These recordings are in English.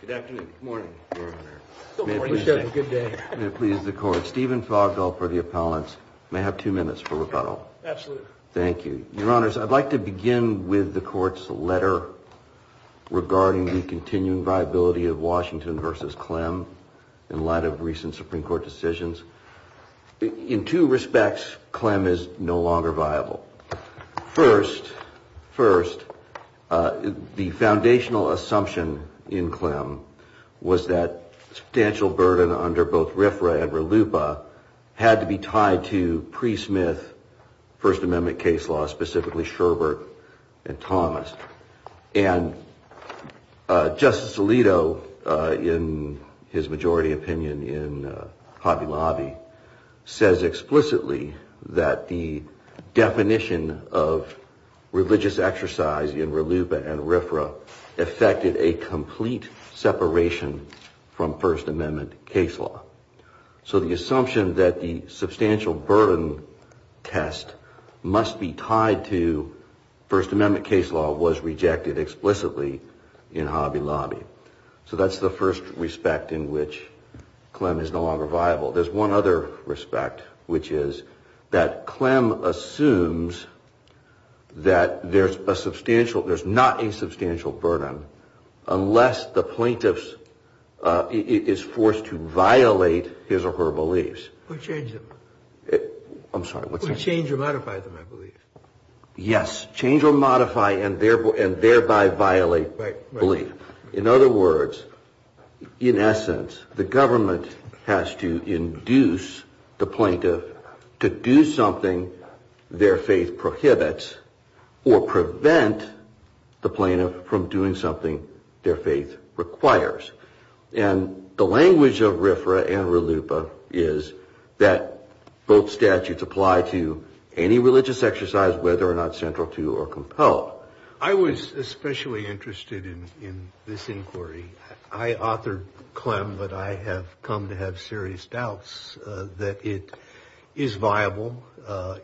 Good afternoon. Good morning, your honor. May it please the court, Stephen Fogdall for the appellants may have two minutes for rebuttal. Absolutely. Thank you. Your honors, I'd like to begin with the court's letter regarding the continuing viability of Washington versus Clem in light of recent Supreme Court decisions. In two respects, Clem is no longer viable. First, first the foundational assumption in Clem was that substantial burden under both RFRA and RLUPA had to be tied to pre-Smith First Amendment case law, specifically Sherbert and Thomas. And Justice Alito in his majority opinion in Hobby Lobby says explicitly that the definition of religious exercise in RLUPA and RFRA affected a complete separation from First Amendment case law. So the assumption that the substantial burden test must be tied to First Amendment case law was rejected explicitly in Hobby Lobby. So that's the first respect in which Clem is no longer viable. Second, that Clem assumes that there's a substantial, there's not a substantial burden unless the plaintiff is forced to violate his or her beliefs. Or change them. I'm sorry, what's that? Or change or modify them, I believe. Yes, change or modify and thereby violate belief. In other words, in essence, the government has to induce the plaintiff to do something their faith prohibits or prevent the plaintiff from doing something their faith requires. And the language of RFRA and RLUPA is that both statutes apply to any religious exercise whether or not central to or compelled. I was especially interested in this inquiry. I authored Clem, but I have come to have serious doubts that it is viable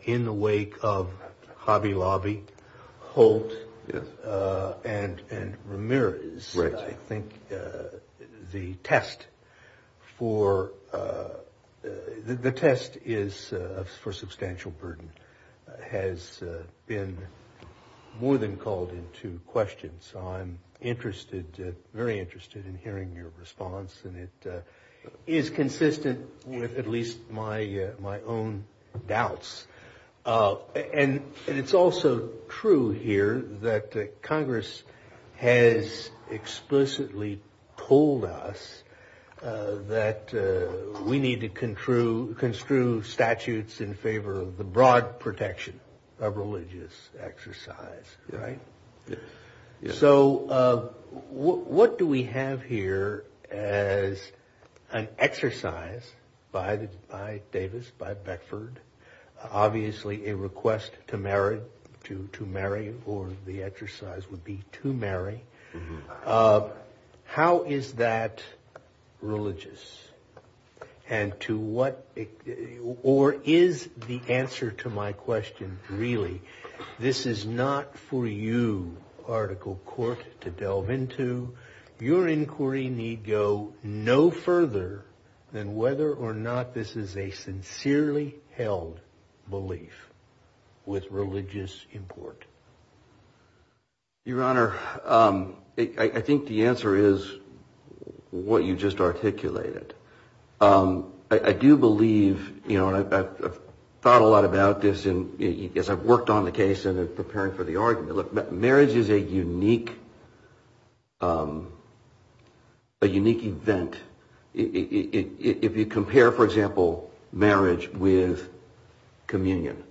in the wake of Hobby Lobby, Holt, and Ramirez. I think the test for, the test is for substantial burden has been more than called into question. So I'm interested, very interested in hearing your response and it is consistent with at least my my own doubts. And it's also true here that Congress has explicitly told us that we need to construe statutes in favor of the broad protection of religious exercise, right? So what do we have here as an exercise by Davis, by Beckford, obviously a request to marry, to marry or the exercise would be to marry. How is that religious? And to what, or is the answer to my question really? This is not for you, Article Court, to delve into. Your inquiry need go no further than whether or not this is a sincerely held belief with religious import. Your Honor, I think the answer is what you just articulated. I do believe, you know, I've thought a lot about this and as I've worked on the case and preparing for the argument, marriage is a unique, a unique event. If you compare, for example, marriage with communion,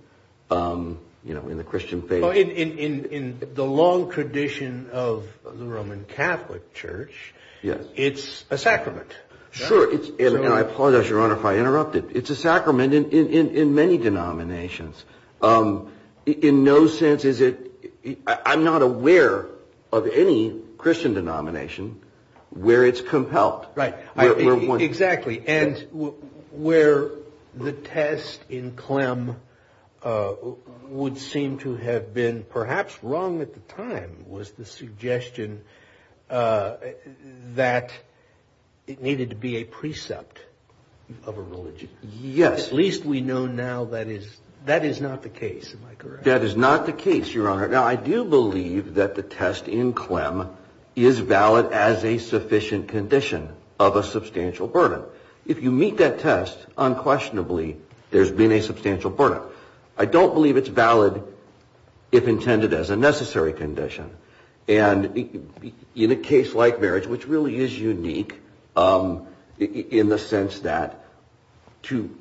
you know, in the Christian faith. In the long tradition of the Roman Catholic Church, it's a sacrament. Sure. And I apologize, Your Honor, if I interrupted. It's a sacrament in many denominations. In no sense is it, I'm not aware of any Christian denomination where it's compelled. Right. Exactly. And where the test in Clem would seem to have been perhaps wrong at the time was the suggestion that it needed to be a precept of a religion. Yes. At least we know now that is, that is not the case. Am I correct? That is not the case, Your Honor. Now, I do believe that the test in Clem is valid as a sufficient condition of a substantial burden. If you meet that test, unquestionably, there's been a substantial burden. I don't believe it's valid if intended as a necessary condition. And in a case like marriage, which really is unique in the sense that two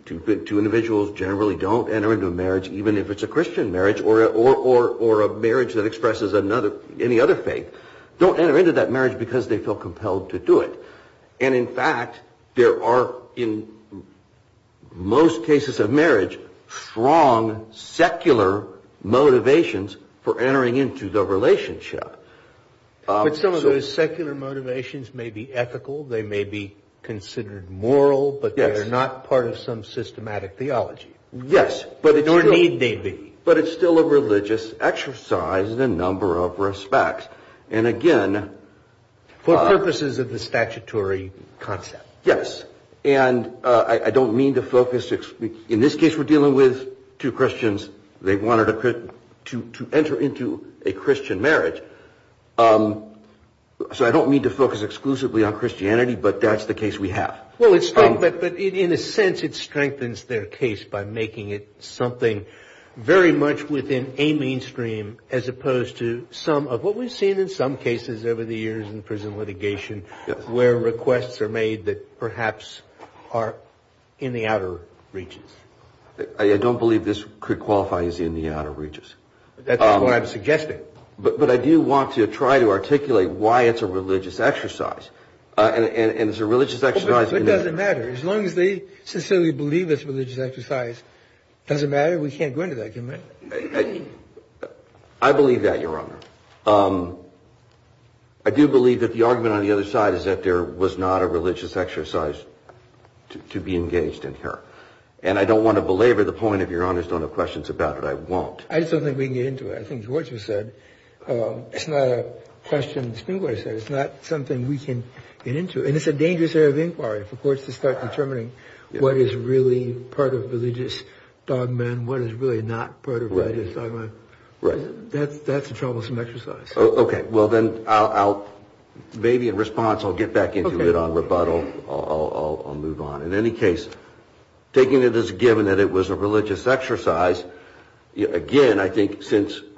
individuals generally don't enter into a marriage, even if it's a Christian marriage or or or a marriage that expresses another, any other faith, don't enter into that marriage because they feel compelled to do it. And in fact, there are in most cases of marriage, strong secular motivations for entering into the relationship. But some of those secular motivations may be ethical, they may be considered moral, but they're not part of some systematic theology. Yes, but it or need they be. But it's still a religious exercise in a number of respects. And again, for purposes of the statutory concept. Yes. And I don't mean to focus. In this case, we're dealing with two Christians. They wanted to enter into a Christian marriage. So I don't mean to focus exclusively on Christianity, but that's the case we have. Well, it's but in a sense, it strengthens their case by making it something very much within a mainstream as opposed to some of what we've seen in some cases over the years in prison litigation, where requests are made that perhaps are in the outer reaches. I don't believe this could qualify as in the outer reaches. That's what I'm suggesting. But I do want to try to articulate why it's a religious exercise. And it's a religious exercise. It doesn't matter. As long as they sincerely believe it's a religious exercise, it doesn't matter. We can't go into that, can we? I believe that, Your Honor. I do believe that the argument on the other side is that there was not a religious exercise to be engaged in here. And I don't want to belabor the point, if Your Honors don't have questions about it, I won't. I just don't think we can get into it. I think George has said, it's not a question. It's not something we can get into. And it's a dangerous area of inquiry for courts to start determining what is really part of religious dogma and what is really not part of religious dogma. Right. That's a troublesome exercise. OK, well, then I'll maybe in response, I'll get back into it on rebuttal. I'll move on. In any case, taking it as given that it was a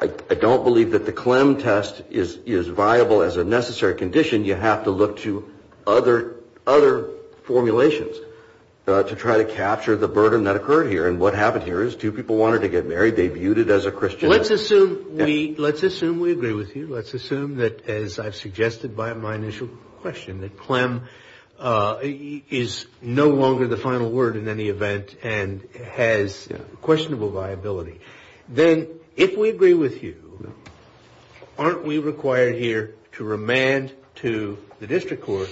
I don't believe that the Clem test is viable as a necessary condition. You have to look to other formulations to try to capture the burden that occurred here. And what happened here is two people wanted to get married. They viewed it as a Christian. Let's assume we let's assume we agree with you. Let's assume that, as I've suggested by my initial question, that Clem is no longer the final word in any event and has questionable viability. Then if we agree with you, aren't we required here to remand to the district court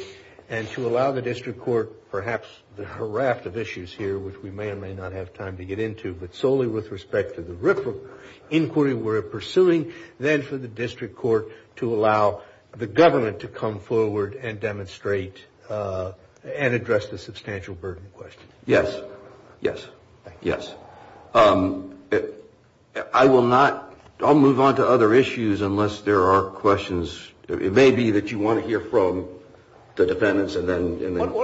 and to allow the district court perhaps the raft of issues here, which we may or may not have time to get into, but solely with respect to the inquiry we're pursuing, then for the district court to allow the government to come forward and demonstrate and address the substantial burden question. Yes. Yes. Yes. I will not. I'll move on to other issues unless there are questions. It may be that you want to hear from the defendants. And then why don't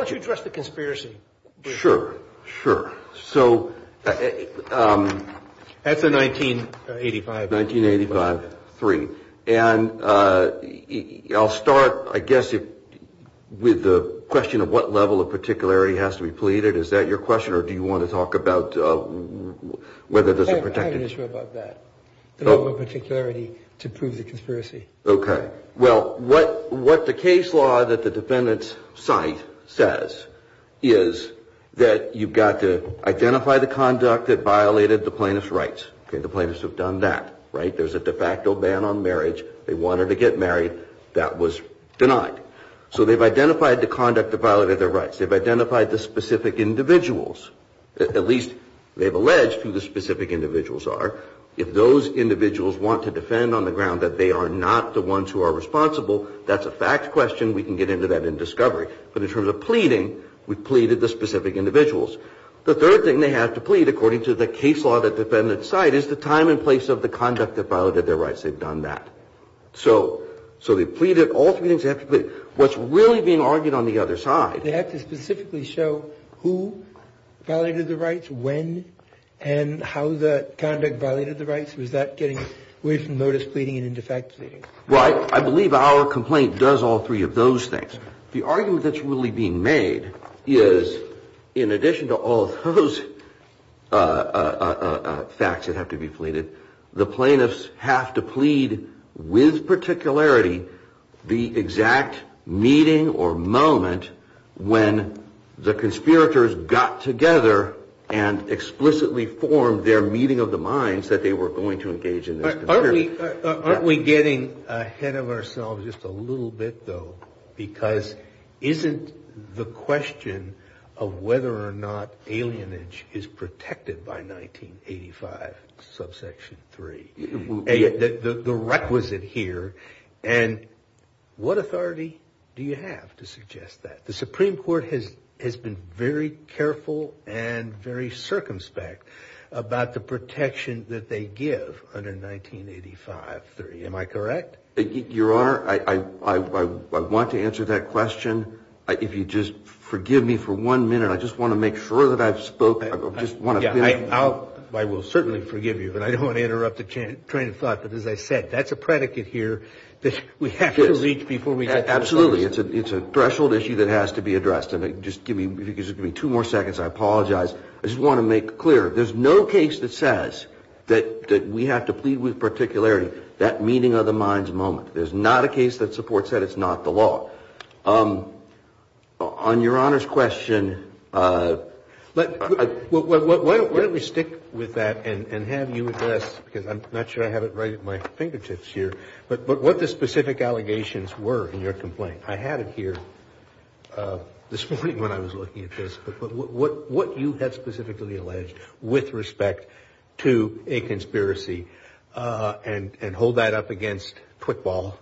I guess with the question of what level of particularity has to be pleaded, is that your question or do you want to talk about whether there's a protected issue? I have an issue about that. The level of particularity to prove the conspiracy. OK. Well, what what the case law that the defendants cite says is that you've got to identify the conduct that violated the plaintiff's rights. The plaintiffs have done that. Right. There's a de facto ban on denied. So they've identified the conduct that violated their rights. They've identified the specific individuals, at least they've alleged who the specific individuals are. If those individuals want to defend on the ground that they are not the ones who are responsible, that's a fact question. We can get into that in discovery. But in terms of pleading, we've pleaded the specific individuals. The third thing they have to plead, according to the case law that defendants cite, is the what's really being argued on the other side. They have to specifically show who violated the rights, when and how the conduct violated the rights. Was that getting away from notice pleading and into fact pleading? Right. I believe our complaint does all three of those things. The argument that's really being made is, in addition to all those facts that have to be pleaded, the plaintiffs have to plead with particularity the exact meeting or moment when the conspirators got together and explicitly formed their meeting of the minds that they were going to engage in this conspiracy. Aren't we getting ahead of ourselves just a little bit, though? Because isn't the question of whether or not alienage is protected by 1985, subsection 3? The requisite here. And what authority do you have to suggest that? The Supreme Court has been very careful and very circumspect about the protection that they give under 1985, 3. Am I correct? Your Honor, I want to answer that question. If you just forgive me for one minute, I just want to make sure that I've spoken. I just want to finish. I will certainly forgive you, but I don't want to interrupt the train of thought. But as I said, that's a predicate here that we have to reach before we get to the solution. Absolutely. It's a threshold issue that has to be addressed. Just give me two more seconds. I apologize. I just want to make clear, there's no case that says that we have to plead with particularity that meeting of the minds moment. There's not a case that supports that. It's not the law. On Your Honor's question, let me stick with that and have you address, because I'm not sure I have it right at my fingertips here, but what the specific allegations were in your complaint. I had it here this morning when I was looking at this, but what you had specifically alleged with respect to a conspiracy, and hold that up against quick ball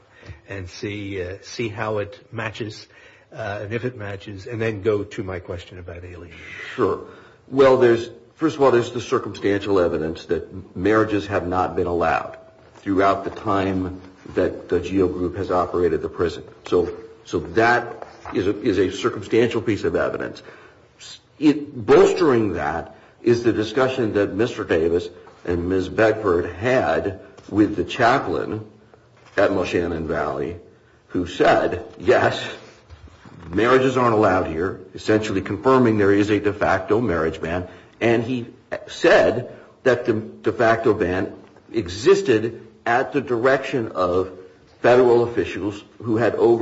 and see how it matches and if it matches, and then go to my question about alienation. Sure. Well, first of all, there's the circumstantial evidence that bolstering that is the discussion that Mr. Davis and Ms. Beckford had with the chaplain at Moshannon Valley, who said, yes, marriages aren't allowed here, essentially confirming there is a de facto marriage ban. And he said that the de facto ban existed at the direction of federal officials who had assumed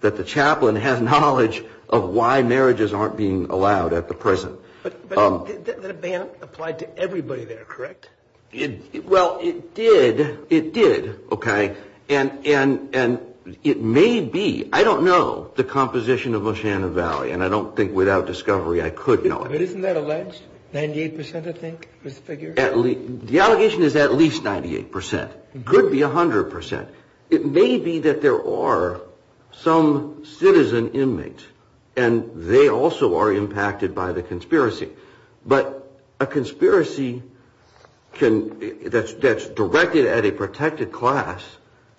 that the chaplain has knowledge of why marriages aren't being allowed at the prison. But the ban applied to everybody there, correct? Well, it did. It did. Okay. And it may be, I don't know, the composition of Moshannon Valley, and I don't think without discovery I could know it. But isn't that alleged? 98%, I think, is the figure? The allegation is at least 98%. It could be 100%. It may be that there are some citizen inmates, and they also are impacted by the conspiracy. But a conspiracy that's directed at a protected class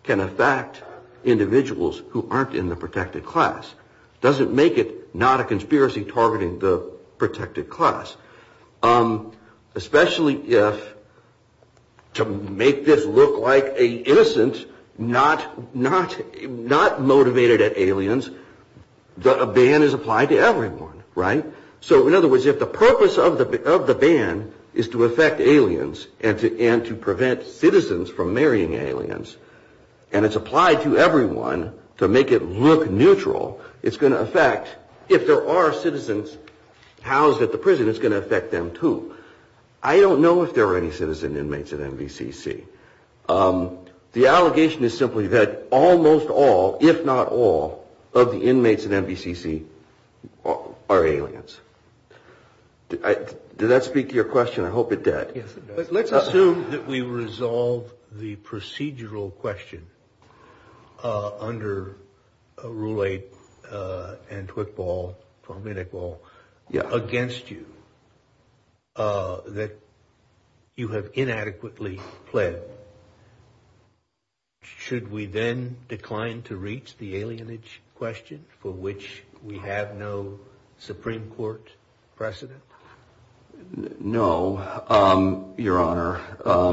can affect individuals who aren't in the protected class. Especially if, to make this look like an innocent, not motivated at aliens, a ban is applied to everyone, right? So, in other words, if the purpose of the ban is to affect aliens and to prevent citizens from marrying aliens, and it's applied to everyone to make it look neutral, it's going to affect, if there are citizens housed at the prison, it's going to affect them. I don't know if there are any citizen inmates at MVCC. The allegation is simply that almost all, if not all, of the inmates at MVCC are aliens. Did that speak to your question? I hope it did. Let's assume that we resolve the procedural question under Rule 8 and Twitball, against you, that you have inadequately pled. Should we then decline to reach the alienage question for which we have no Supreme Court precedent? No, Your Honor.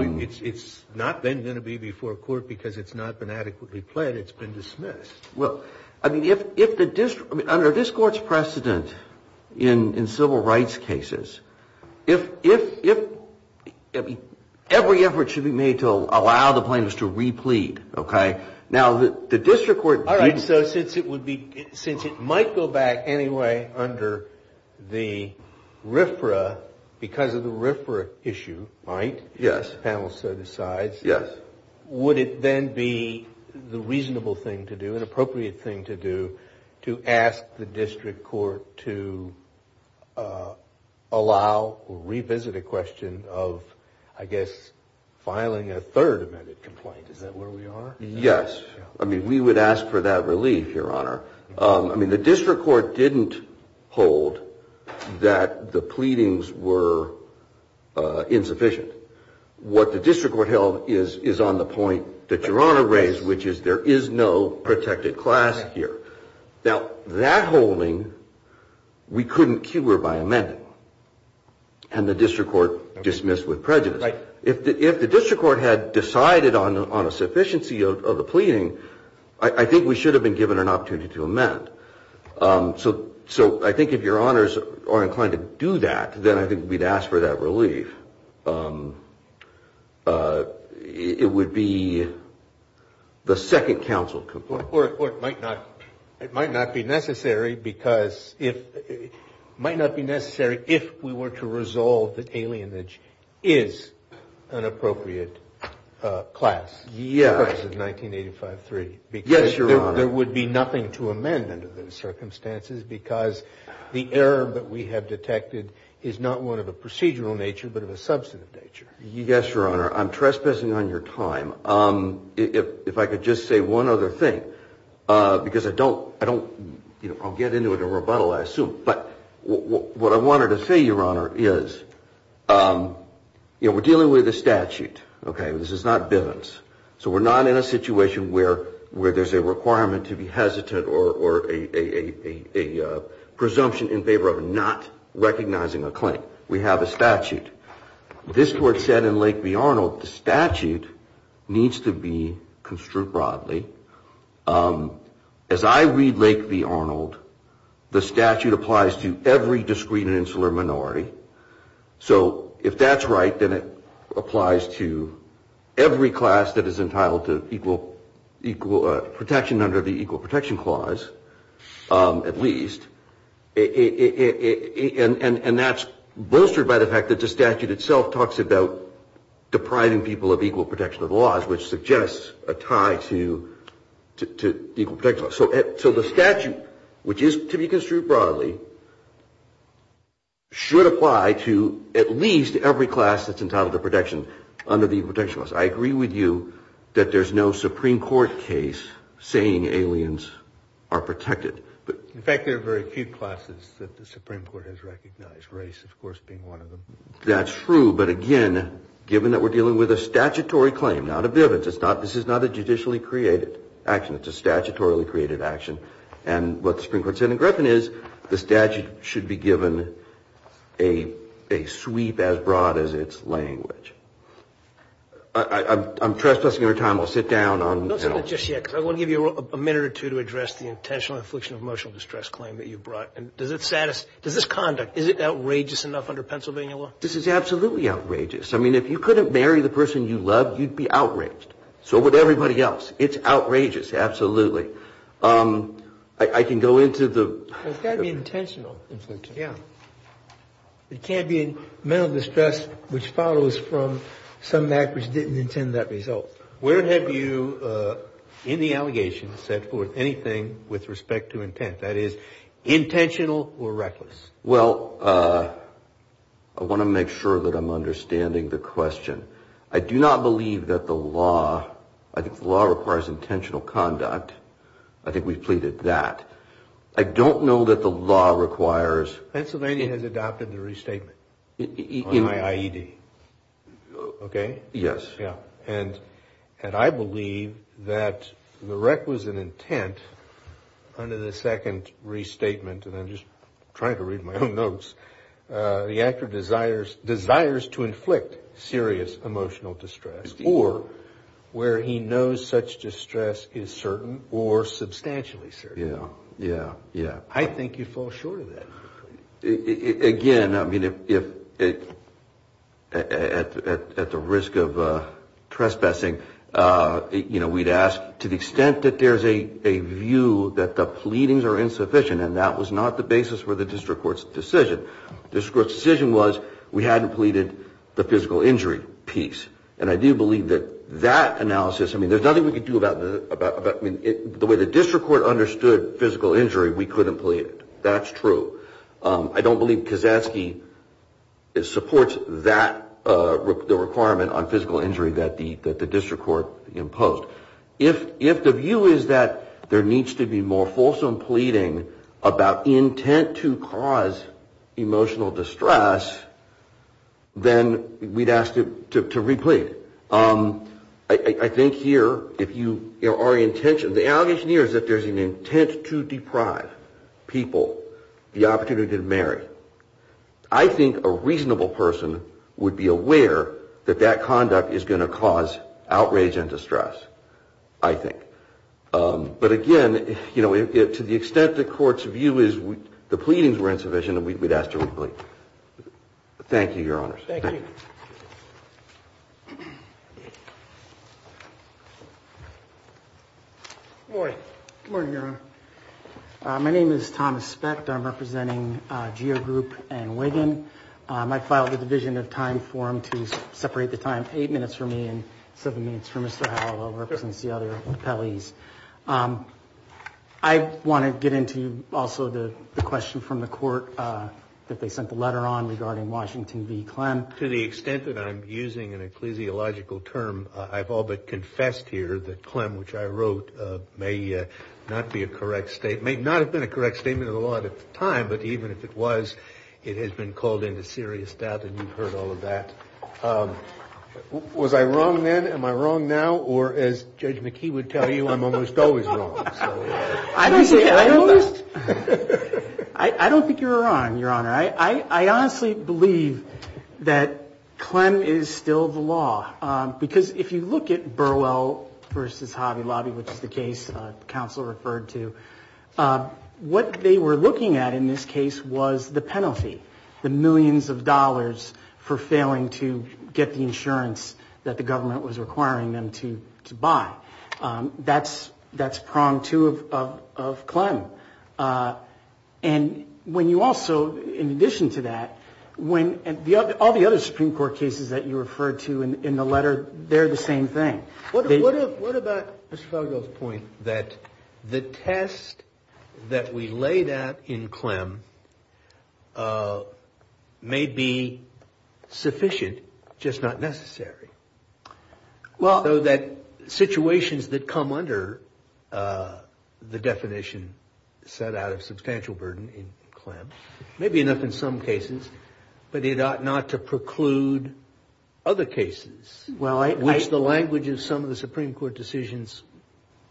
It's not then going to be before court because it's not been adequately pled. It's been dismissed. Well, I mean, under this Court's precedent in civil rights cases, every effort should be made to allow the plaintiffs to replete, okay? Now, the district court... Yes. Would it then be the reasonable thing to do, an appropriate thing to do, to ask the district court to allow or revisit a question of, I guess, filing a third amended complaint? Is that where we are? Yes. I mean, we would ask for that relief, Your Honor. I mean, the district court didn't hold that the pleadings were insufficient. What the district court held is on the point that Your Honor raised, which is there is no protected class here. Now, that holding, we couldn't cure by amending, and the district court dismissed with prejudice. If the district court had decided on a sufficiency of the pleading, I think we should have been given an opportunity to amend. So I think if Your Honors are inclined to do that, then I think we'd ask for that relief. It would be the second counsel complaint. It might not be necessary if we were to resolve that alienage is an appropriate class. Yes. Because of 1985-3. Yes, Your Honor. Because there would be nothing to amend under those circumstances because the error that we have detected is not one of a procedural nature, but of a substantive nature. Yes, Your Honor. I'm trespassing on your time. If I could just say one other thing, because I'll get into a rebuttal, I assume. But what I wanted to say, Your Honor, is we're dealing with a statute. This is not Bivens. So we're not in a situation where there's a requirement to be hesitant or a presumption in favor of not recognizing a claim. We have a statute. This court said in Lake v. Arnold, the statute needs to be construed broadly. As I read Lake v. Arnold, the statute applies to every discrete and insular minority. So if that's right, then it applies to every class that is entitled to equal protection under the Equal Protection Clause, at least. And that's bolstered by the fact that the statute itself talks about depriving people of equal protection of the laws, which suggests a tie to the Equal Protection Clause. So the statute, which is to be construed broadly, should apply to at least every class that's entitled to protection under the Equal Protection Clause. I agree with you that there's no Supreme Court case saying aliens are protected. In fact, there are very few classes that the Supreme Court has recognized, race, of course, being one of them. That's true, but again, given that we're dealing with a statutory claim, not a bivouac, this is not a judicially created action. It's a statutorily created action. And what the Supreme Court said in Griffin is the statute should be given a sweep as broad as its language. I'm trespassing on your time. I'll sit down. Don't sit down just yet, because I want to give you a minute or two to address the intentional infliction of emotional distress claim that you brought. Does this conduct, is it outrageous enough under Pennsylvania law? This is absolutely outrageous. I mean, if you couldn't marry the person you love, you'd be outraged. So would everybody else. It's outrageous, absolutely. I can go into the... It's got to be intentional infliction. Yeah. It can't be mental distress, which follows from some act which didn't intend that result. Where have you, in the allegation, set forth anything with respect to intent? That is, intentional or reckless? Well, I want to make sure that I'm understanding the question. I do not believe that the law, I think the law requires intentional conduct. I think we've pleaded that. I don't know that the law requires... Pennsylvania has adopted the restatement on IED. Okay? Yes. And I believe that the requisite intent under the second restatement, and I'm just trying to read my own notes, the actor desires to inflict serious emotional distress, or where he knows such distress is certain or substantially certain. Yeah, yeah, yeah. I think you fall short of that. Again, I mean, at the risk of trespassing, we'd ask to the extent that there's a view that the pleadings are insufficient, and that was not the basis for the district court's decision. The district court's decision was we hadn't pleaded the physical injury piece, and I do believe that that analysis... I mean, there's nothing we can do about... I mean, the way the district court understood physical injury, we couldn't plead it. That's true. I don't believe Kasatsky supports that requirement on physical injury that the district court imposed. If the view is that there needs to be more fulsome pleading about intent to cause emotional distress, then we'd ask to replead. I think here if you... Our intention... The allegation here is that there's an intent to deprive people the opportunity to marry. I think a reasonable person would be aware that that conduct is going to cause outrage and distress, I think. But again, to the extent the court's view is the pleadings were insufficient, we'd ask to replead. Thank you, Your Honors. Thank you. Thank you. Good morning. Good morning, Your Honor. My name is Thomas Specht. I'm representing Geo Group and Wigan. I filed a division of time form to separate the time, eight minutes for me and seven minutes for Mr. Howell, who represents the other appellees. I want to get into also the question from the court that they sent the letter on regarding Washington v. Clem. To the extent that I'm using an ecclesiological term, I've all but confessed here that Clem, which I wrote, may not be a correct statement. It may not have been a correct statement of the law at the time, but even if it was, it has been called into serious doubt, and you've heard all of that. Was I wrong then? Am I wrong now? Or as Judge McKee would tell you, I'm almost always wrong. I don't think you're wrong, Your Honor. I honestly believe that Clem is still the law, because if you look at Burwell v. Hobby Lobby, which is the case the counsel referred to, what they were looking at in this case was the penalty, the millions of dollars for failing to get the insurance that the government was requiring them to buy. That's prong two of Clem. And when you also, in addition to that, all the other Supreme Court cases that you referred to in the letter, they're the same thing. What about Mr. Felgel's point that the test that we laid out in Clem may be sufficient, just not necessary? So that situations that come under the definition set out of substantial burden in Clem may be enough in some cases, but it ought not to preclude other cases, which the language of some of the Supreme Court decisions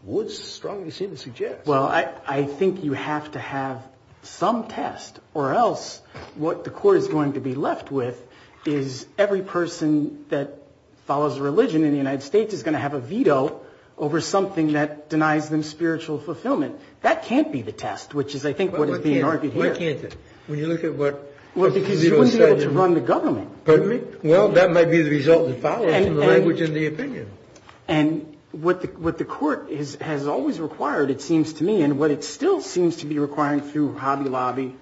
would strongly seem to suggest. Well, I think you have to have some test, or else what the Court is going to be left with is every person that follows a religion in the United States is going to have a veto over something that denies them spiritual fulfillment. That can't be the test, which is, I think, what is being argued here. Why can't it? When you look at what? Well, because you wouldn't be able to run the government. Pardon me? Well, that might be the result of the language and the opinion. And what the Court has always required, it seems to me, and what it still seems to be requiring through Hobby Lobby,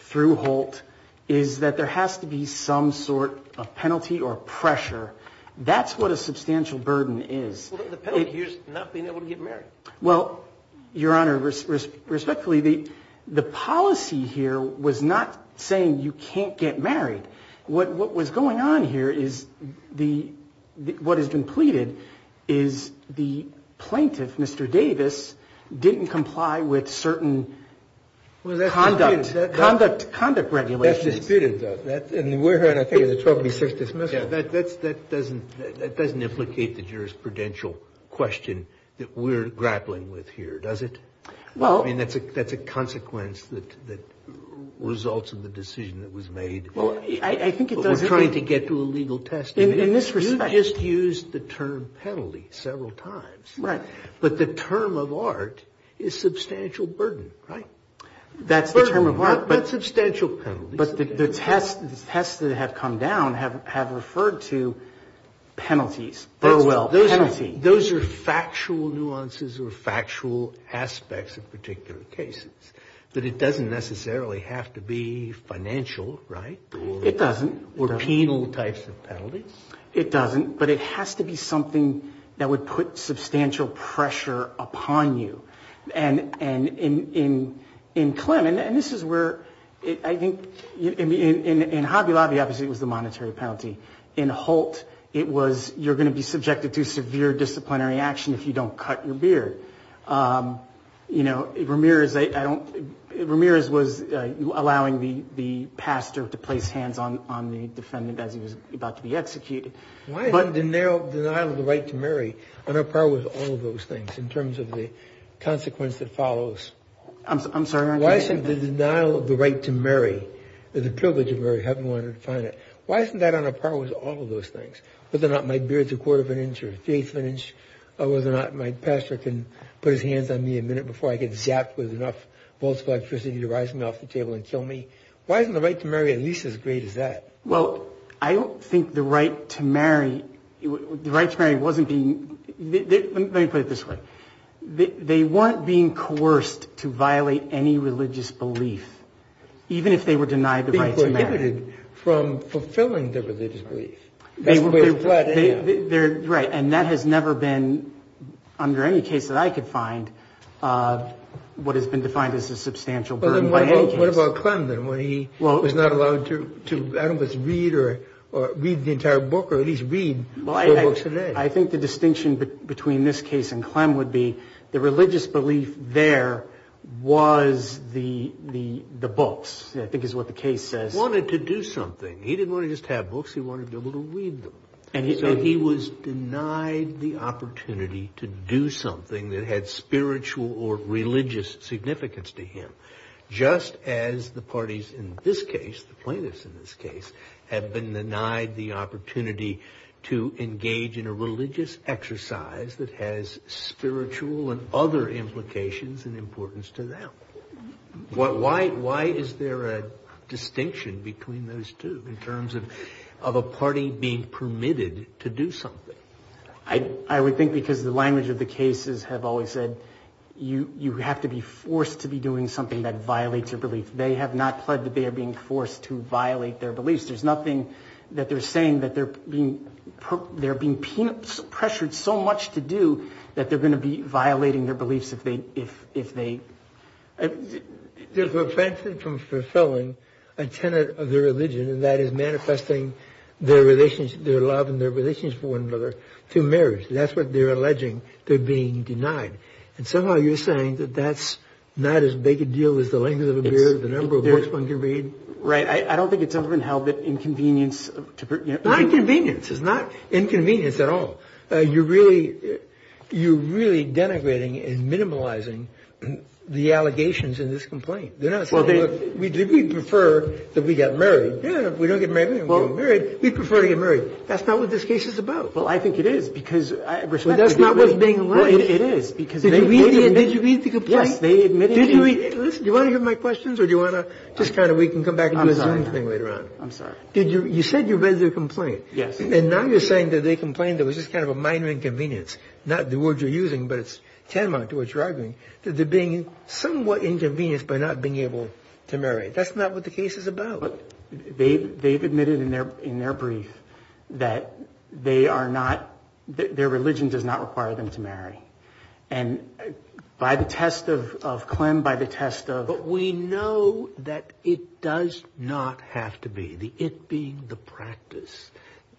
through Holt, is that there has to be some sort of penalty or pressure. That's what a substantial burden is. The penalty here is not being able to get married. Well, Your Honor, respectfully, the policy here was not saying you can't get married. What was going on here is the, what has been pleaded is the plaintiff, Mr. Davis, didn't comply with certain conduct regulations. That's disputed, though. And we're hearing, I think, a 1236 dismissal. That doesn't implicate the jurisprudential question that we're grappling with here, does it? Well. I mean, that's a consequence that results in the decision that was made. Well, I think it does. We're trying to get to a legal test. In this respect. You just used the term penalty several times. Right. But the term of art is substantial burden. Right? That's the term of art. But substantial penalties. But the tests that have come down have referred to penalties. Burwell penalty. Those are factual nuances or factual aspects of particular cases. But it doesn't necessarily have to be financial, right? It doesn't. Or penal types of penalties. It doesn't. But it has to be something that would put substantial pressure upon you. And in Clem, and this is where I think in Hobby Lobby, obviously, it was the monetary penalty. In Holt, it was you're going to be subjected to severe disciplinary action if you don't cut your beard. You know, Ramirez was allowing the pastor to place hands on the defendant as he was about to be executed. Why isn't the denial of the right to marry on a par with all of those things in terms of the consequence that follows? I'm sorry. Why isn't the denial of the right to marry, the privilege of having wanted to find it, why isn't that on a par with all of those things? Whether or not my beard's a quarter of an inch or an eighth of an inch. Whether or not my pastor can put his hands on me a minute before I get zapped with enough volts of electricity to rise me off the table and kill me. Why isn't the right to marry at least as great as that? Well, I don't think the right to marry, the right to marry wasn't being, let me put it this way. They weren't being coerced to violate any religious belief, even if they were denied the right to marry. Being prohibited from fulfilling the religious belief. Right, and that has never been, under any case that I could find, what has been defined as a substantial burden by any case. What about Clem then, when he was not allowed to read the entire book or at least read the books today? I think the distinction between this case and Clem would be the religious belief there was the books, I think is what the case says. He wanted to do something. He didn't want to just have books, he wanted to be able to read them. And so he was denied the opportunity to do something that had spiritual or religious significance to him. Just as the parties in this case, the plaintiffs in this case, have been denied the opportunity to engage in a religious exercise that has spiritual and other implications and importance to them. Why is there a distinction between those two in terms of a party being permitted to do something? I would think because the language of the cases have always said you have to be forced to be doing something that violates your belief. They have not pledged that they are being forced to violate their beliefs. There's nothing that they're saying that they're being pressured so much to do that they're going to be violating their beliefs if they... They're prevented from fulfilling a tenet of their religion, and that is manifesting their love and their relations for one another through marriage. That's what they're alleging. They're being denied. And somehow you're saying that that's not as big a deal as the length of a beard, the number of books one can read. I don't think it's ever been held that inconvenience... Not inconvenience. It's not inconvenience at all. You're really denigrating and minimalizing the allegations in this complaint. They're not saying, look, we prefer that we get married. Yeah, we don't get married. We don't get married. We prefer to get married. That's not what this case is about. Well, I think it is because... That's not what's being alleged. It is because... Did you read the complaint? Yes, they admitted... Do you want to hear my questions, or do you want to just kind of... We can come back and do a Zoom thing later on. I'm sorry. You said you read the complaint. Yes. And now you're saying that they complained that it was just kind of a minor inconvenience, not the words you're using, but it's tantamount to what you're arguing, that they're being somewhat inconvenienced by not being able to marry. That's not what the case is about. They've admitted in their brief that they are not... Their religion does not require them to marry. And by the test of Clem, by the test of... But we know that it does not have to be, the it being the practice,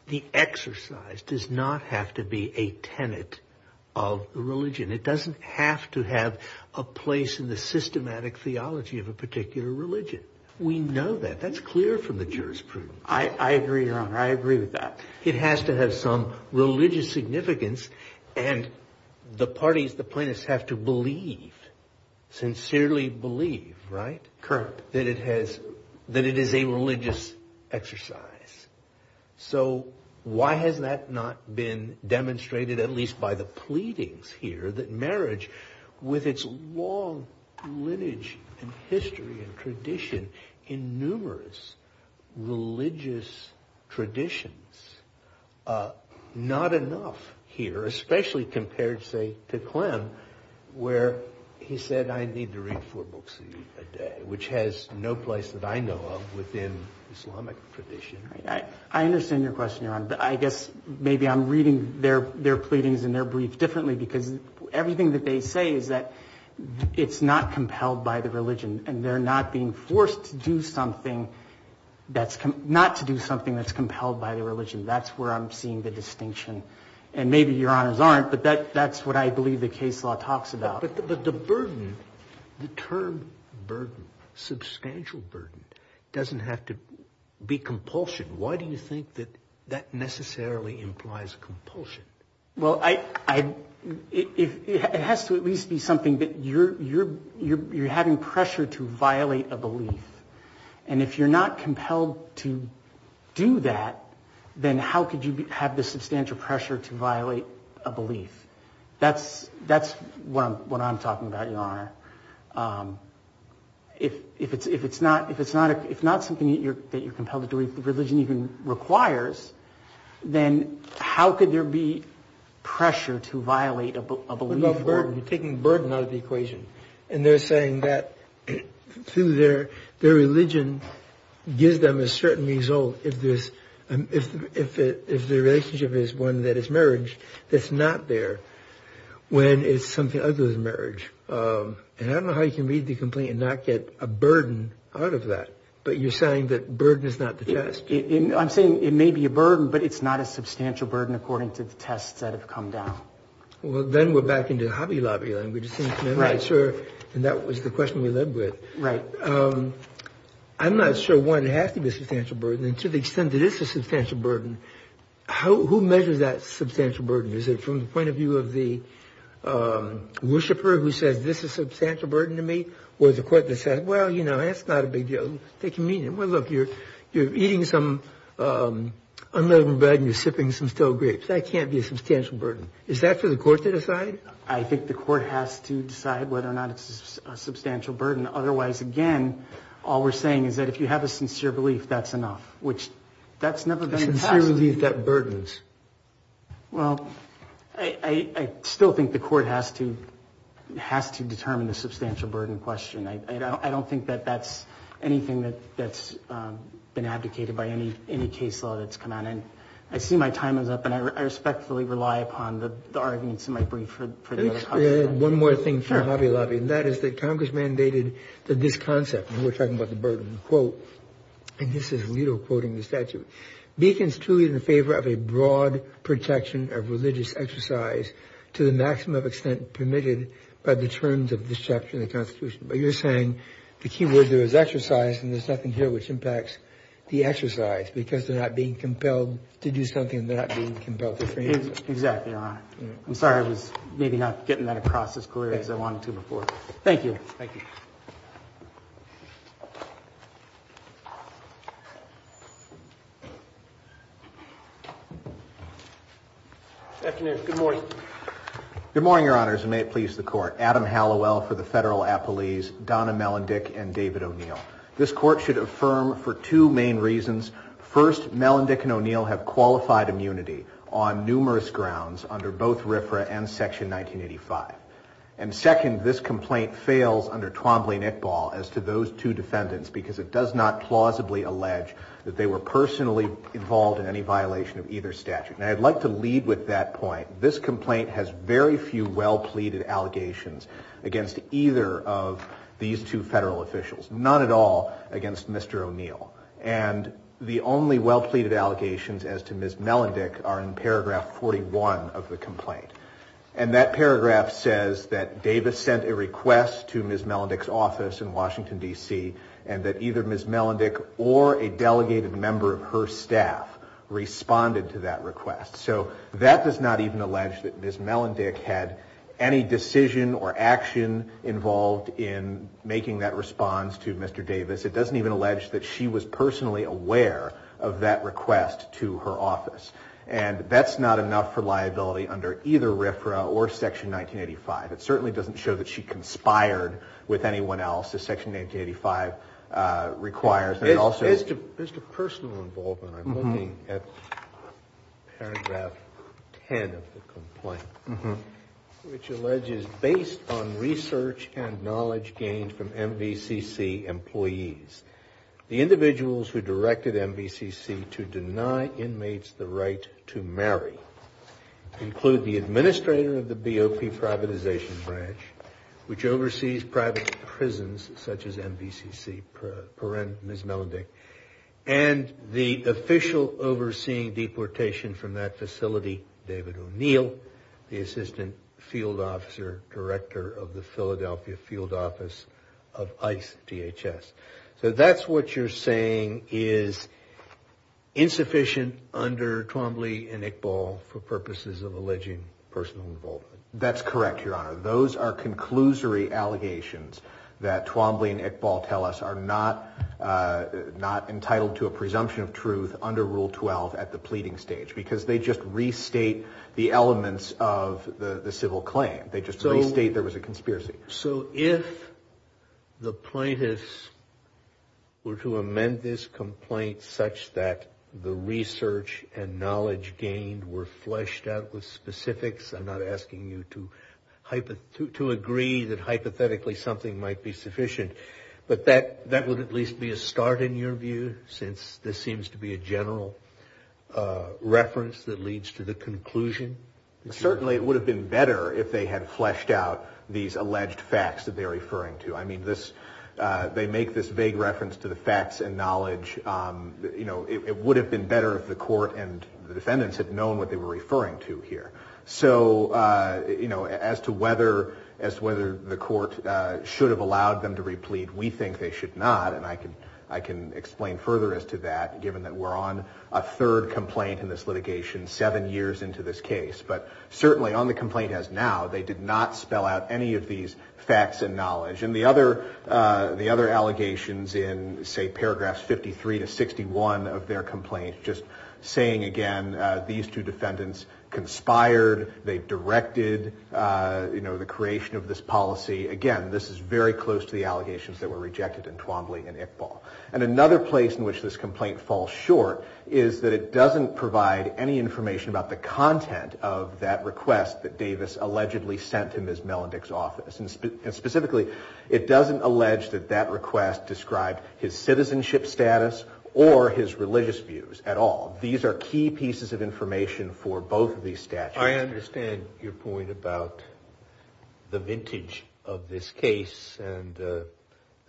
the exercise, does not have to be a tenet of religion. It doesn't have to have a place in the systematic theology of a particular religion. We know that. That's clear from the jurisprudence. I agree, Your Honor. I agree with that. It has to have some religious significance. And the parties, the plaintiffs, have to believe, sincerely believe, right? Correct. That it is a religious exercise. So why has that not been demonstrated, at least by the pleadings here, that marriage, with its long lineage and history and tradition, in numerous religious traditions, not enough here, especially compared, say, to Clem, where he said, I need to read four books a day, which has no place that I know of within Islamic tradition. I understand your question, Your Honor. But I guess maybe I'm reading their pleadings in their brief differently because everything that they say is that it's not compelled by the religion. And they're not being forced to do something that's... Not to do something that's compelled by the religion. That's where I'm seeing the distinction. And maybe Your Honors aren't, but that's what I believe the case law talks about. But the burden, the term burden, substantial burden, doesn't have to be compulsion. Why do you think that that necessarily implies compulsion? Well, it has to at least be something that you're having pressure to violate a belief. And if you're not compelled to do that, then how could you have the substantial pressure to violate a belief? That's what I'm talking about, Your Honor. If it's not something that you're compelled to do, if the religion even requires, then how could there be pressure to violate a belief? You're taking burden out of the equation. And they're saying that through their religion gives them a certain result. If the relationship is one that is marriage, that's not there when it's something other than marriage. And I don't know how you can read the complaint and not get a burden out of that. But you're saying that burden is not the test. I'm saying it may be a burden, but it's not a substantial burden according to the tests that have come down. Well, then we're back into Hobby Lobby language. Right. And that was the question we lived with. Right. I'm not sure why it has to be a substantial burden. And to the extent that it's a substantial burden, who measures that substantial burden? Is it from the point of view of the worshiper who says this is a substantial burden to me? Or is it the court that says, well, you know, that's not a big deal. Take it easy. Well, look, you're eating some unleavened bread and you're sipping some stale grapes. That can't be a substantial burden. Is that for the court to decide? I think the court has to decide whether or not it's a substantial burden. Otherwise, again, all we're saying is that if you have a sincere belief, that's enough, which that's never been a test. A sincere belief that burdens. Well, I still think the court has to determine the substantial burden question. I don't think that that's anything that's been abdicated by any case law that's come out. And I see my time is up, and I respectfully rely upon the arguments in my brief for the other parts of that. One more thing for Hobby Lobby, and that is that Congress mandated that this concept we're talking about the burden quote. And this is little quoting the statute beacons truly in favor of a broad protection of religious exercise to the maximum extent permitted by the terms of this chapter in the Constitution. But you're saying the key word there is exercise. And there's nothing here which impacts the exercise because they're not being compelled to do something. They're not being compelled. Exactly. Thank you, Your Honor. I'm sorry I was maybe not getting that across as clearly as I wanted to before. Thank you. Thank you. Afternoon. Good morning. Good morning, Your Honors, and may it please the Court. Adam Hallowell for the Federal Appellees, Donna Melendick, and David O'Neill. This Court should affirm for two main reasons. First, Melendick and O'Neill have qualified immunity on numerous grounds under both RFRA and Section 1985. And second, this complaint fails under Twombly-Nickball as to those two defendants because it does not plausibly allege that they were personally involved in any violation of either statute. And I'd like to lead with that point. This complaint has very few well-pleaded allegations against either of these two federal officials, none at all against Mr. O'Neill. And the only well-pleaded allegations as to Ms. Melendick are in paragraph 41 of the complaint. And that paragraph says that Davis sent a request to Ms. Melendick's office in Washington, D.C., and that either Ms. Melendick or a delegated member of her staff responded to that request. So that does not even allege that Ms. Melendick had any decision or action involved in making that response to Mr. Davis. It doesn't even allege that she was personally aware of that request to her office. And that's not enough for liability under either RFRA or Section 1985. It certainly doesn't show that she conspired with anyone else, as Section 1985 requires. As to personal involvement, I'm looking at paragraph 10 of the complaint, which alleges, based on research and knowledge gained from MVCC employees, the individuals who directed MVCC to deny inmates the right to marry include the administrator of the BOP privatization branch, which oversees private prisons such as MVCC, Ms. Melendick, and the official overseeing deportation from that facility, David O'Neill, the assistant field officer director of the Philadelphia Field Office of ICE DHS. So that's what you're saying is insufficient under Twombly and Iqbal for purposes of alleging personal involvement. That's correct, Your Honor. Those are conclusory allegations that Twombly and Iqbal tell us are not entitled to a presumption of truth under Rule 12 at the pleading stage because they just restate the elements of the civil claim. They just restate there was a conspiracy. So if the plaintiffs were to amend this complaint such that the research and knowledge gained were fleshed out with specifics, I'm not asking you to agree that hypothetically something might be sufficient, but that would at least be a start in your view since this seems to be a general reference that leads to the conclusion. Certainly it would have been better if they had fleshed out these alleged facts that they're referring to. I mean, they make this vague reference to the facts and knowledge. It would have been better if the court and the defendants had known what they were referring to here. So, you know, as to whether the court should have allowed them to replead, we think they should not, and I can explain further as to that given that we're on a third complaint in this litigation seven years into this case. But certainly on the complaint as now, they did not spell out any of these facts and knowledge. And the other allegations in, say, paragraphs 53 to 61 of their complaint, just saying again, these two defendants conspired, they directed, you know, the creation of this policy. Again, this is very close to the allegations that were rejected in Twombly and Iqbal. And another place in which this complaint falls short is that it doesn't provide any information about the content of that request and specifically, it doesn't allege that that request described his citizenship status or his religious views at all. These are key pieces of information for both of these statutes. I understand your point about the vintage of this case and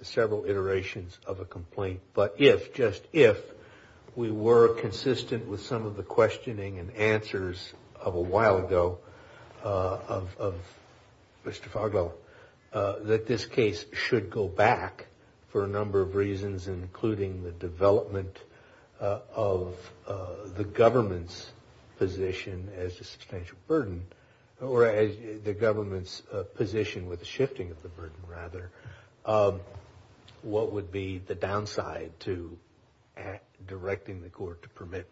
several iterations of a complaint. But if, just if, we were consistent with some of the questioning and answers of a while ago of Mr. Fargo, that this case should go back for a number of reasons, including the development of the government's position as a substantial burden, or the government's position with shifting of the burden rather, what would be the downside to directing the court to permit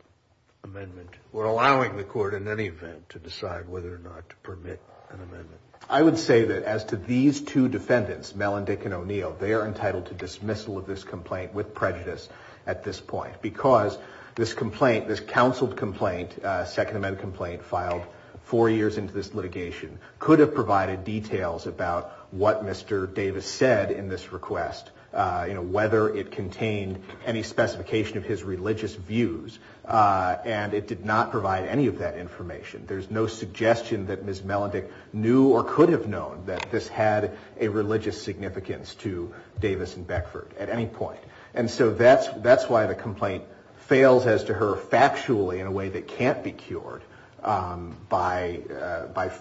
amendment or allowing the court in any event to decide whether or not to permit an amendment? I would say that as to these two defendants, Mel and Dick and O'Neill, they are entitled to dismissal of this complaint with prejudice at this point because this complaint, this counseled complaint, Second Amendment complaint filed four years into this litigation, could have provided details about what Mr. Davis said in this request, whether it contained any specification of his religious views. And it did not provide any of that information. There's no suggestion that Ms. Mel and Dick knew or could have known that this had a religious significance to Davis and Beckford at any point. And so that's why the complaint fails as to her factually in a way that can't be cured by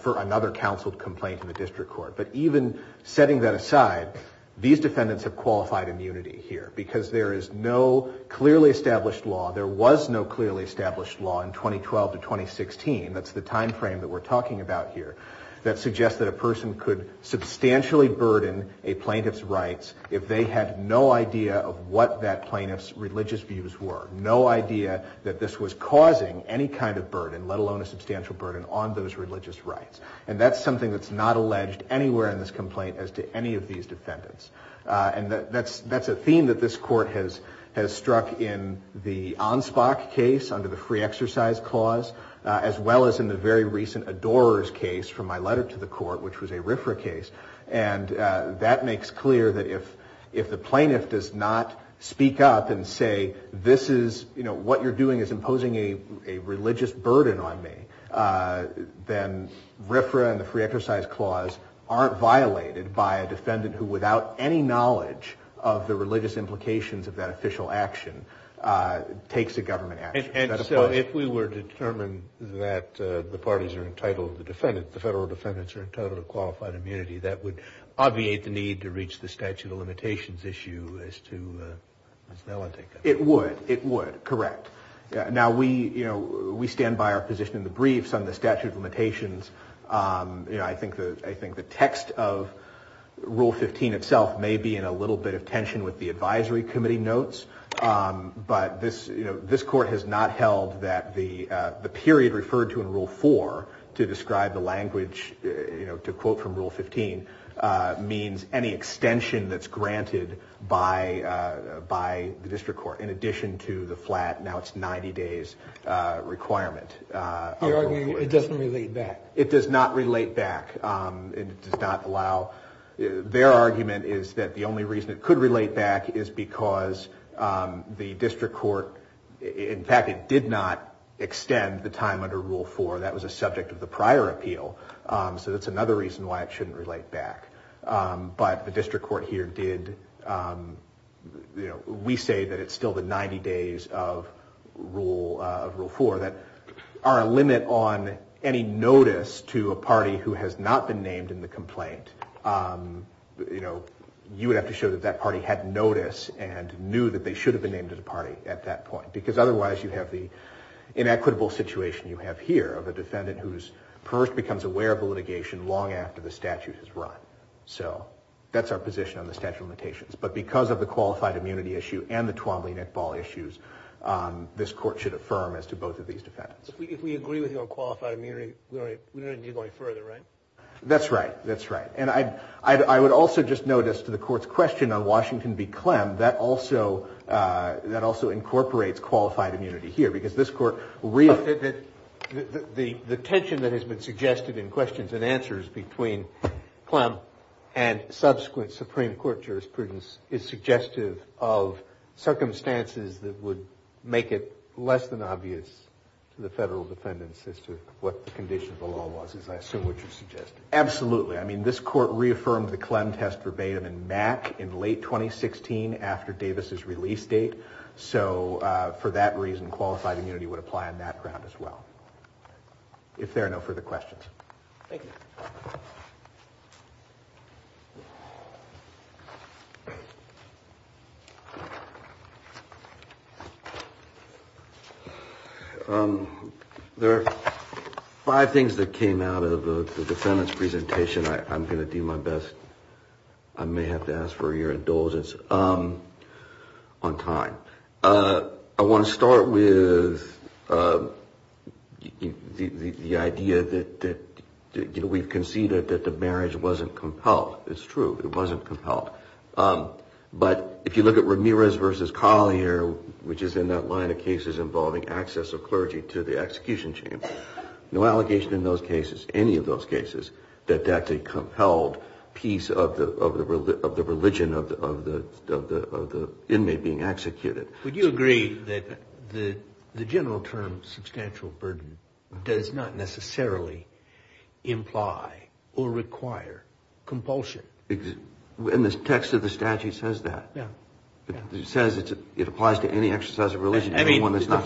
another counseled complaint in the district court. But even setting that aside, these defendants have qualified immunity here because there is no clearly established law, there was no clearly established law in 2012 to 2016, that's the timeframe that we're talking about here, that suggests that a person could substantially burden a plaintiff's rights if they had no idea of what that plaintiff's religious views were, no idea that this was causing any kind of burden, let alone a substantial burden, on those religious rights. And that's something that's not alleged anywhere in this complaint as to any of these defendants. And that's a theme that this court has struck in the Ansbach case under the free exercise clause, as well as in the very recent Adorers case from my letter to the court, which was a RFRA case. And that makes clear that if the plaintiff does not speak up and say this is, you know, what you're doing is imposing a religious burden on me, then RFRA and the free exercise clause aren't violated by a defendant who, without any knowledge of the religious implications of that official action, takes a government action. And so if we were to determine that the parties are entitled, the defendants, the federal defendants are entitled to qualified immunity, that would obviate the need to reach the statute of limitations issue as to that one. It would. It would. Correct. Now, we, you know, we stand by our position in the briefs on the statute of limitations. You know, I think the text of Rule 15 itself may be in a little bit of tension with the advisory committee notes. But this, you know, this court has not held that the period referred to in Rule 4 to describe the language, you know, to quote from Rule 15, means any extension that's granted by the district court, in addition to the flat now it's 90 days requirement. You're arguing it doesn't relate back. It does not relate back. It does not allow. Their argument is that the only reason it could relate back is because the district court, in fact, it did not extend the time under Rule 4. That was a subject of the prior appeal. So that's another reason why it shouldn't relate back. But the district court here did. We say that it's still the 90 days of Rule 4 that are a limit on any notice to a party who has not been named in the complaint. You know, you would have to show that that party had notice and knew that they should have been named as a party at that point. Because otherwise you have the inequitable situation you have here of a defendant who first becomes aware of the litigation long after the statute is run. So that's our position on the statute of limitations. But because of the qualified immunity issue and the Twombly-Nickball issues, this court should affirm as to both of these defendants. If we agree with you on qualified immunity, we don't need to go any further, right? That's right. That's right. And I would also just notice to the court's question on Washington v. Clem, that also incorporates qualified immunity here because this court reaffirmed it. The tension that has been suggested in questions and answers between Clem and subsequent Supreme Court jurisprudence is suggestive of circumstances that would make it less than obvious to the federal defendants as to what the condition of the law was, as I assume what you're suggesting. Absolutely. I mean, this court reaffirmed the Clem test verbatim in MAC in late 2016 after Davis' release date. So for that reason, qualified immunity would apply on that ground as well. If there are no further questions. Thank you. There are five things that came out of the defendant's presentation. I'm going to do my best. I may have to ask for your indulgence on time. I want to start with the idea that we've conceded that the marriage wasn't compelled. It's true. It wasn't compelled. But if you look at Ramirez v. Collier, which is in that line of cases involving access of clergy to the execution chamber, no allegation in those cases, any of those cases, that that's a compelled piece of the religion of the inmate being executed. Would you agree that the general term substantial burden does not necessarily imply or require compulsion? The text of the statute says that. It says it applies to any exercise of religion. I mean, the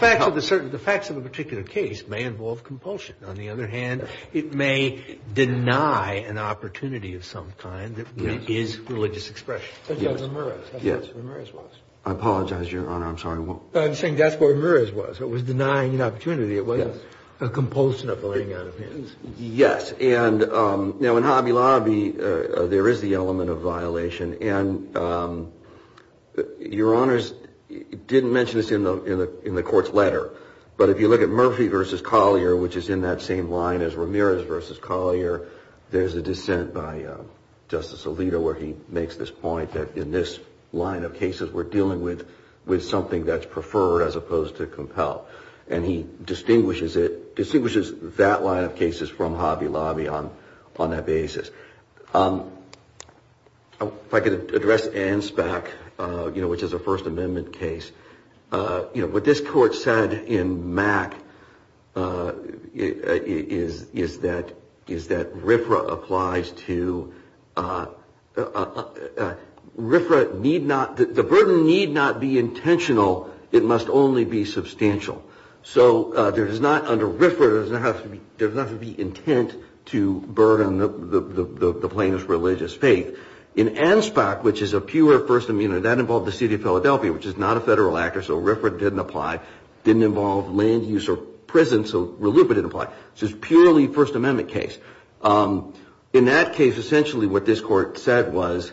facts of a particular case may involve compulsion. On the other hand, it may deny an opportunity of some kind that is religious expression. That's what Ramirez was. I apologize, Your Honor. I'm sorry. I'm saying that's what Ramirez was. It was denying an opportunity. It wasn't a compulsion of the laying down of hands. Yes. And now in Hobby Lobby, there is the element of violation. And Your Honors didn't mention this in the court's letter. But if you look at Murphy v. Collier, which is in that same line as Ramirez v. Collier, there's a dissent by Justice Alito where he makes this point that in this line of cases, we're dealing with something that's preferred as opposed to compelled. And he distinguishes that line of cases from Hobby Lobby on that basis. If I could address Anspach, you know, which is a First Amendment case. You know, what this court said in Mack is that RFRA applies to – RFRA need not – the burden need not be intentional. So there does not – under RFRA, there does not have to be intent to burden the plaintiff's religious faith. In Anspach, which is a pure First Amendment, that involved the city of Philadelphia, which is not a federal actor, so RFRA didn't apply, didn't involve land use or prison, so RLUIPA didn't apply. So it's a purely First Amendment case. In that case, essentially what this court said was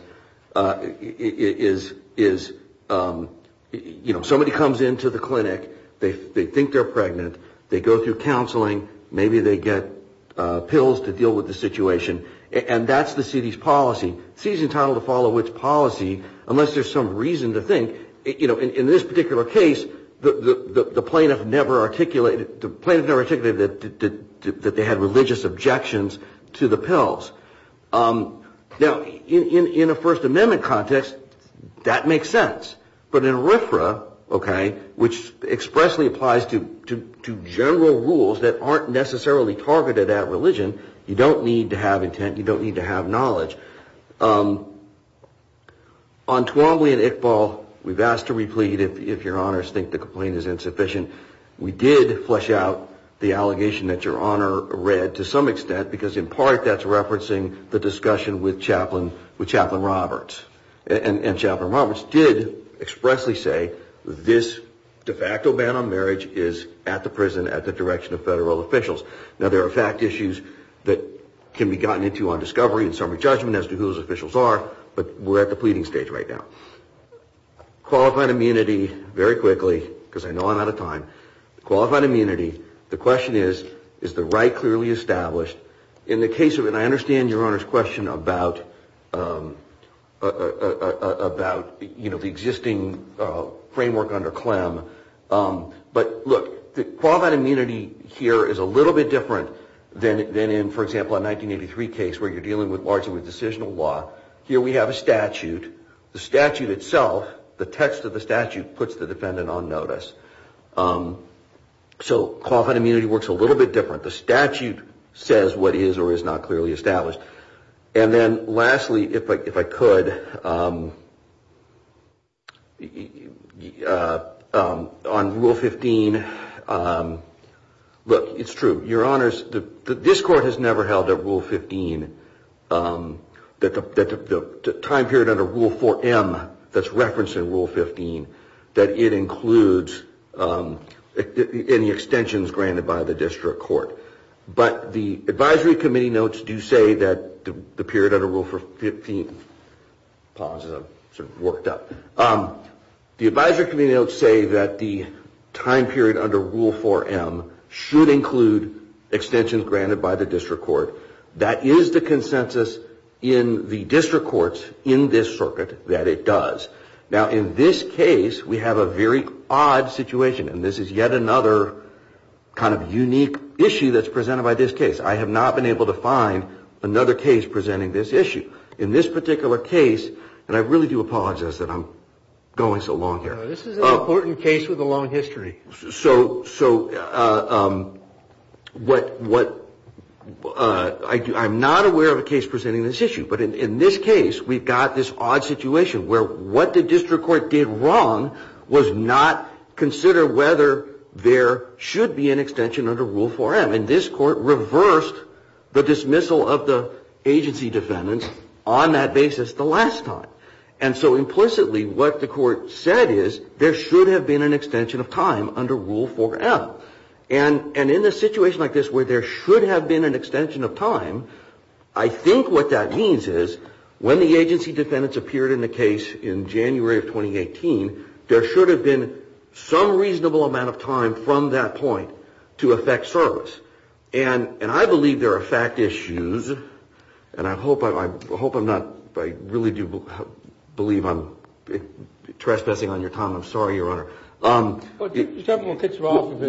is, you know, somebody comes into the clinic. They think they're pregnant. They go through counseling. Maybe they get pills to deal with the situation. And that's the city's policy. The city's entitled to follow its policy unless there's some reason to think – you know, in this particular case, the plaintiff never articulated that they had religious objections to the pills. Now, in a First Amendment context, that makes sense. But in RFRA, okay, which expressly applies to general rules that aren't necessarily targeted at religion, you don't need to have intent, you don't need to have knowledge. On Twombly and Iqbal, we've asked to replead if Your Honors think the complaint is insufficient. We did flesh out the allegation that Your Honor read to some extent, because in part that's referencing the discussion with Chaplain Roberts. And Chaplain Roberts did expressly say this de facto ban on marriage is at the prison, at the direction of federal officials. Now, there are fact issues that can be gotten into on discovery and summary judgment, as to who those officials are, but we're at the pleading stage right now. Qualified immunity, very quickly, because I know I'm out of time. Qualified immunity, the question is, is the right clearly established? In the case of – and I understand Your Honor's question about, you know, the existing framework under CLEM. But look, the qualified immunity here is a little bit different than in, for example, a 1983 case, where you're dealing largely with decisional law. Here we have a statute. The statute itself, the text of the statute, puts the defendant on notice. So qualified immunity works a little bit different. The statute says what is or is not clearly established. And then lastly, if I could, on Rule 15, look, it's true. Your Honors, this Court has never held that Rule 15, that the time period under Rule 4M that's referenced in Rule 15, that it includes any extensions granted by the district court. But the advisory committee notes do say that the period under Rule 15 – pause as I've sort of worked up. The advisory committee notes say that the time period under Rule 4M should include extensions granted by the district court. That is the consensus in the district courts in this circuit that it does. Now, in this case, we have a very odd situation, and this is yet another kind of unique issue that's presented by this case. I have not been able to find another case presenting this issue. In this particular case – and I really do apologize that I'm going so long here. This is an important case with a long history. So what – I'm not aware of a case presenting this issue. But in this case, we've got this odd situation where what the district court did wrong was not consider whether there should be an extension under Rule 4M. And this court reversed the dismissal of the agency defendants on that basis the last time. And so implicitly what the court said is there should have been an extension of time under Rule 4M. And in a situation like this where there should have been an extension of time, I think what that means is when the agency defendants appeared in the case in January of 2018, there should have been some reasonable amount of time from that point to effect service. And I believe there are fact issues. And I hope I'm not – I really do believe I'm trespassing on your time. I'm sorry, Your Honor. What I just want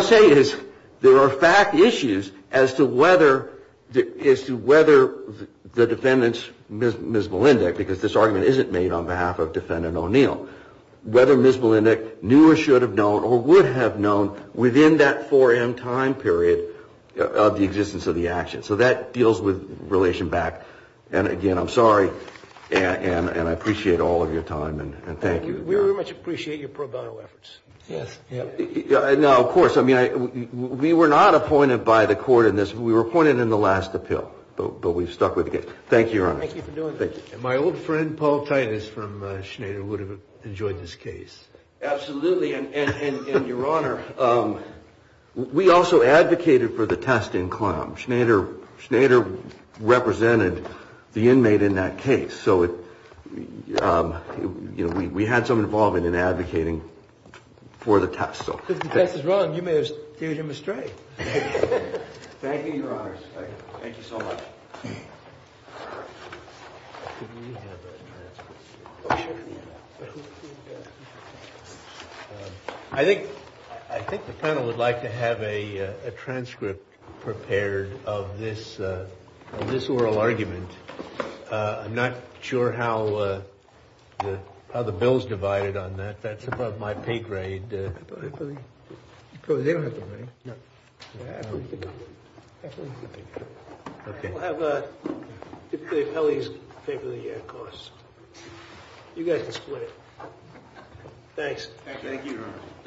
to say is there are fact issues as to whether – I'm sorry, Your Honor. There are fact issues as to whether Ms. Malindic knew or should have known or would have known within that 4M time period of the existence of the action. So that deals with relation back. And, again, I'm sorry and I appreciate all of your time and thank you. We very much appreciate your pro bono efforts. Yes. Now, of course, I mean, we were not appointed by the court in this. We were appointed in the last appeal. But we've stuck with the case. Thank you, Your Honor. Thank you for doing this. And my old friend Paul Titus from Schneider would have enjoyed this case. Absolutely. And, Your Honor, we also advocated for the test in Clem. Schneider represented the inmate in that case. So we had some involvement in advocating for the test. If the test is wrong, you may have steered him astray. Thank you, Your Honors. Thank you so much. I think the panel would like to have a transcript prepared of this oral argument. I'm not sure how the bill is divided on that. That's above my pay grade. They don't have the money. No. I believe they do. I believe they do. Okay. We'll have the appellees pay for the costs. You guys can split it. Thanks. Thank you, Your Honor. Thank you.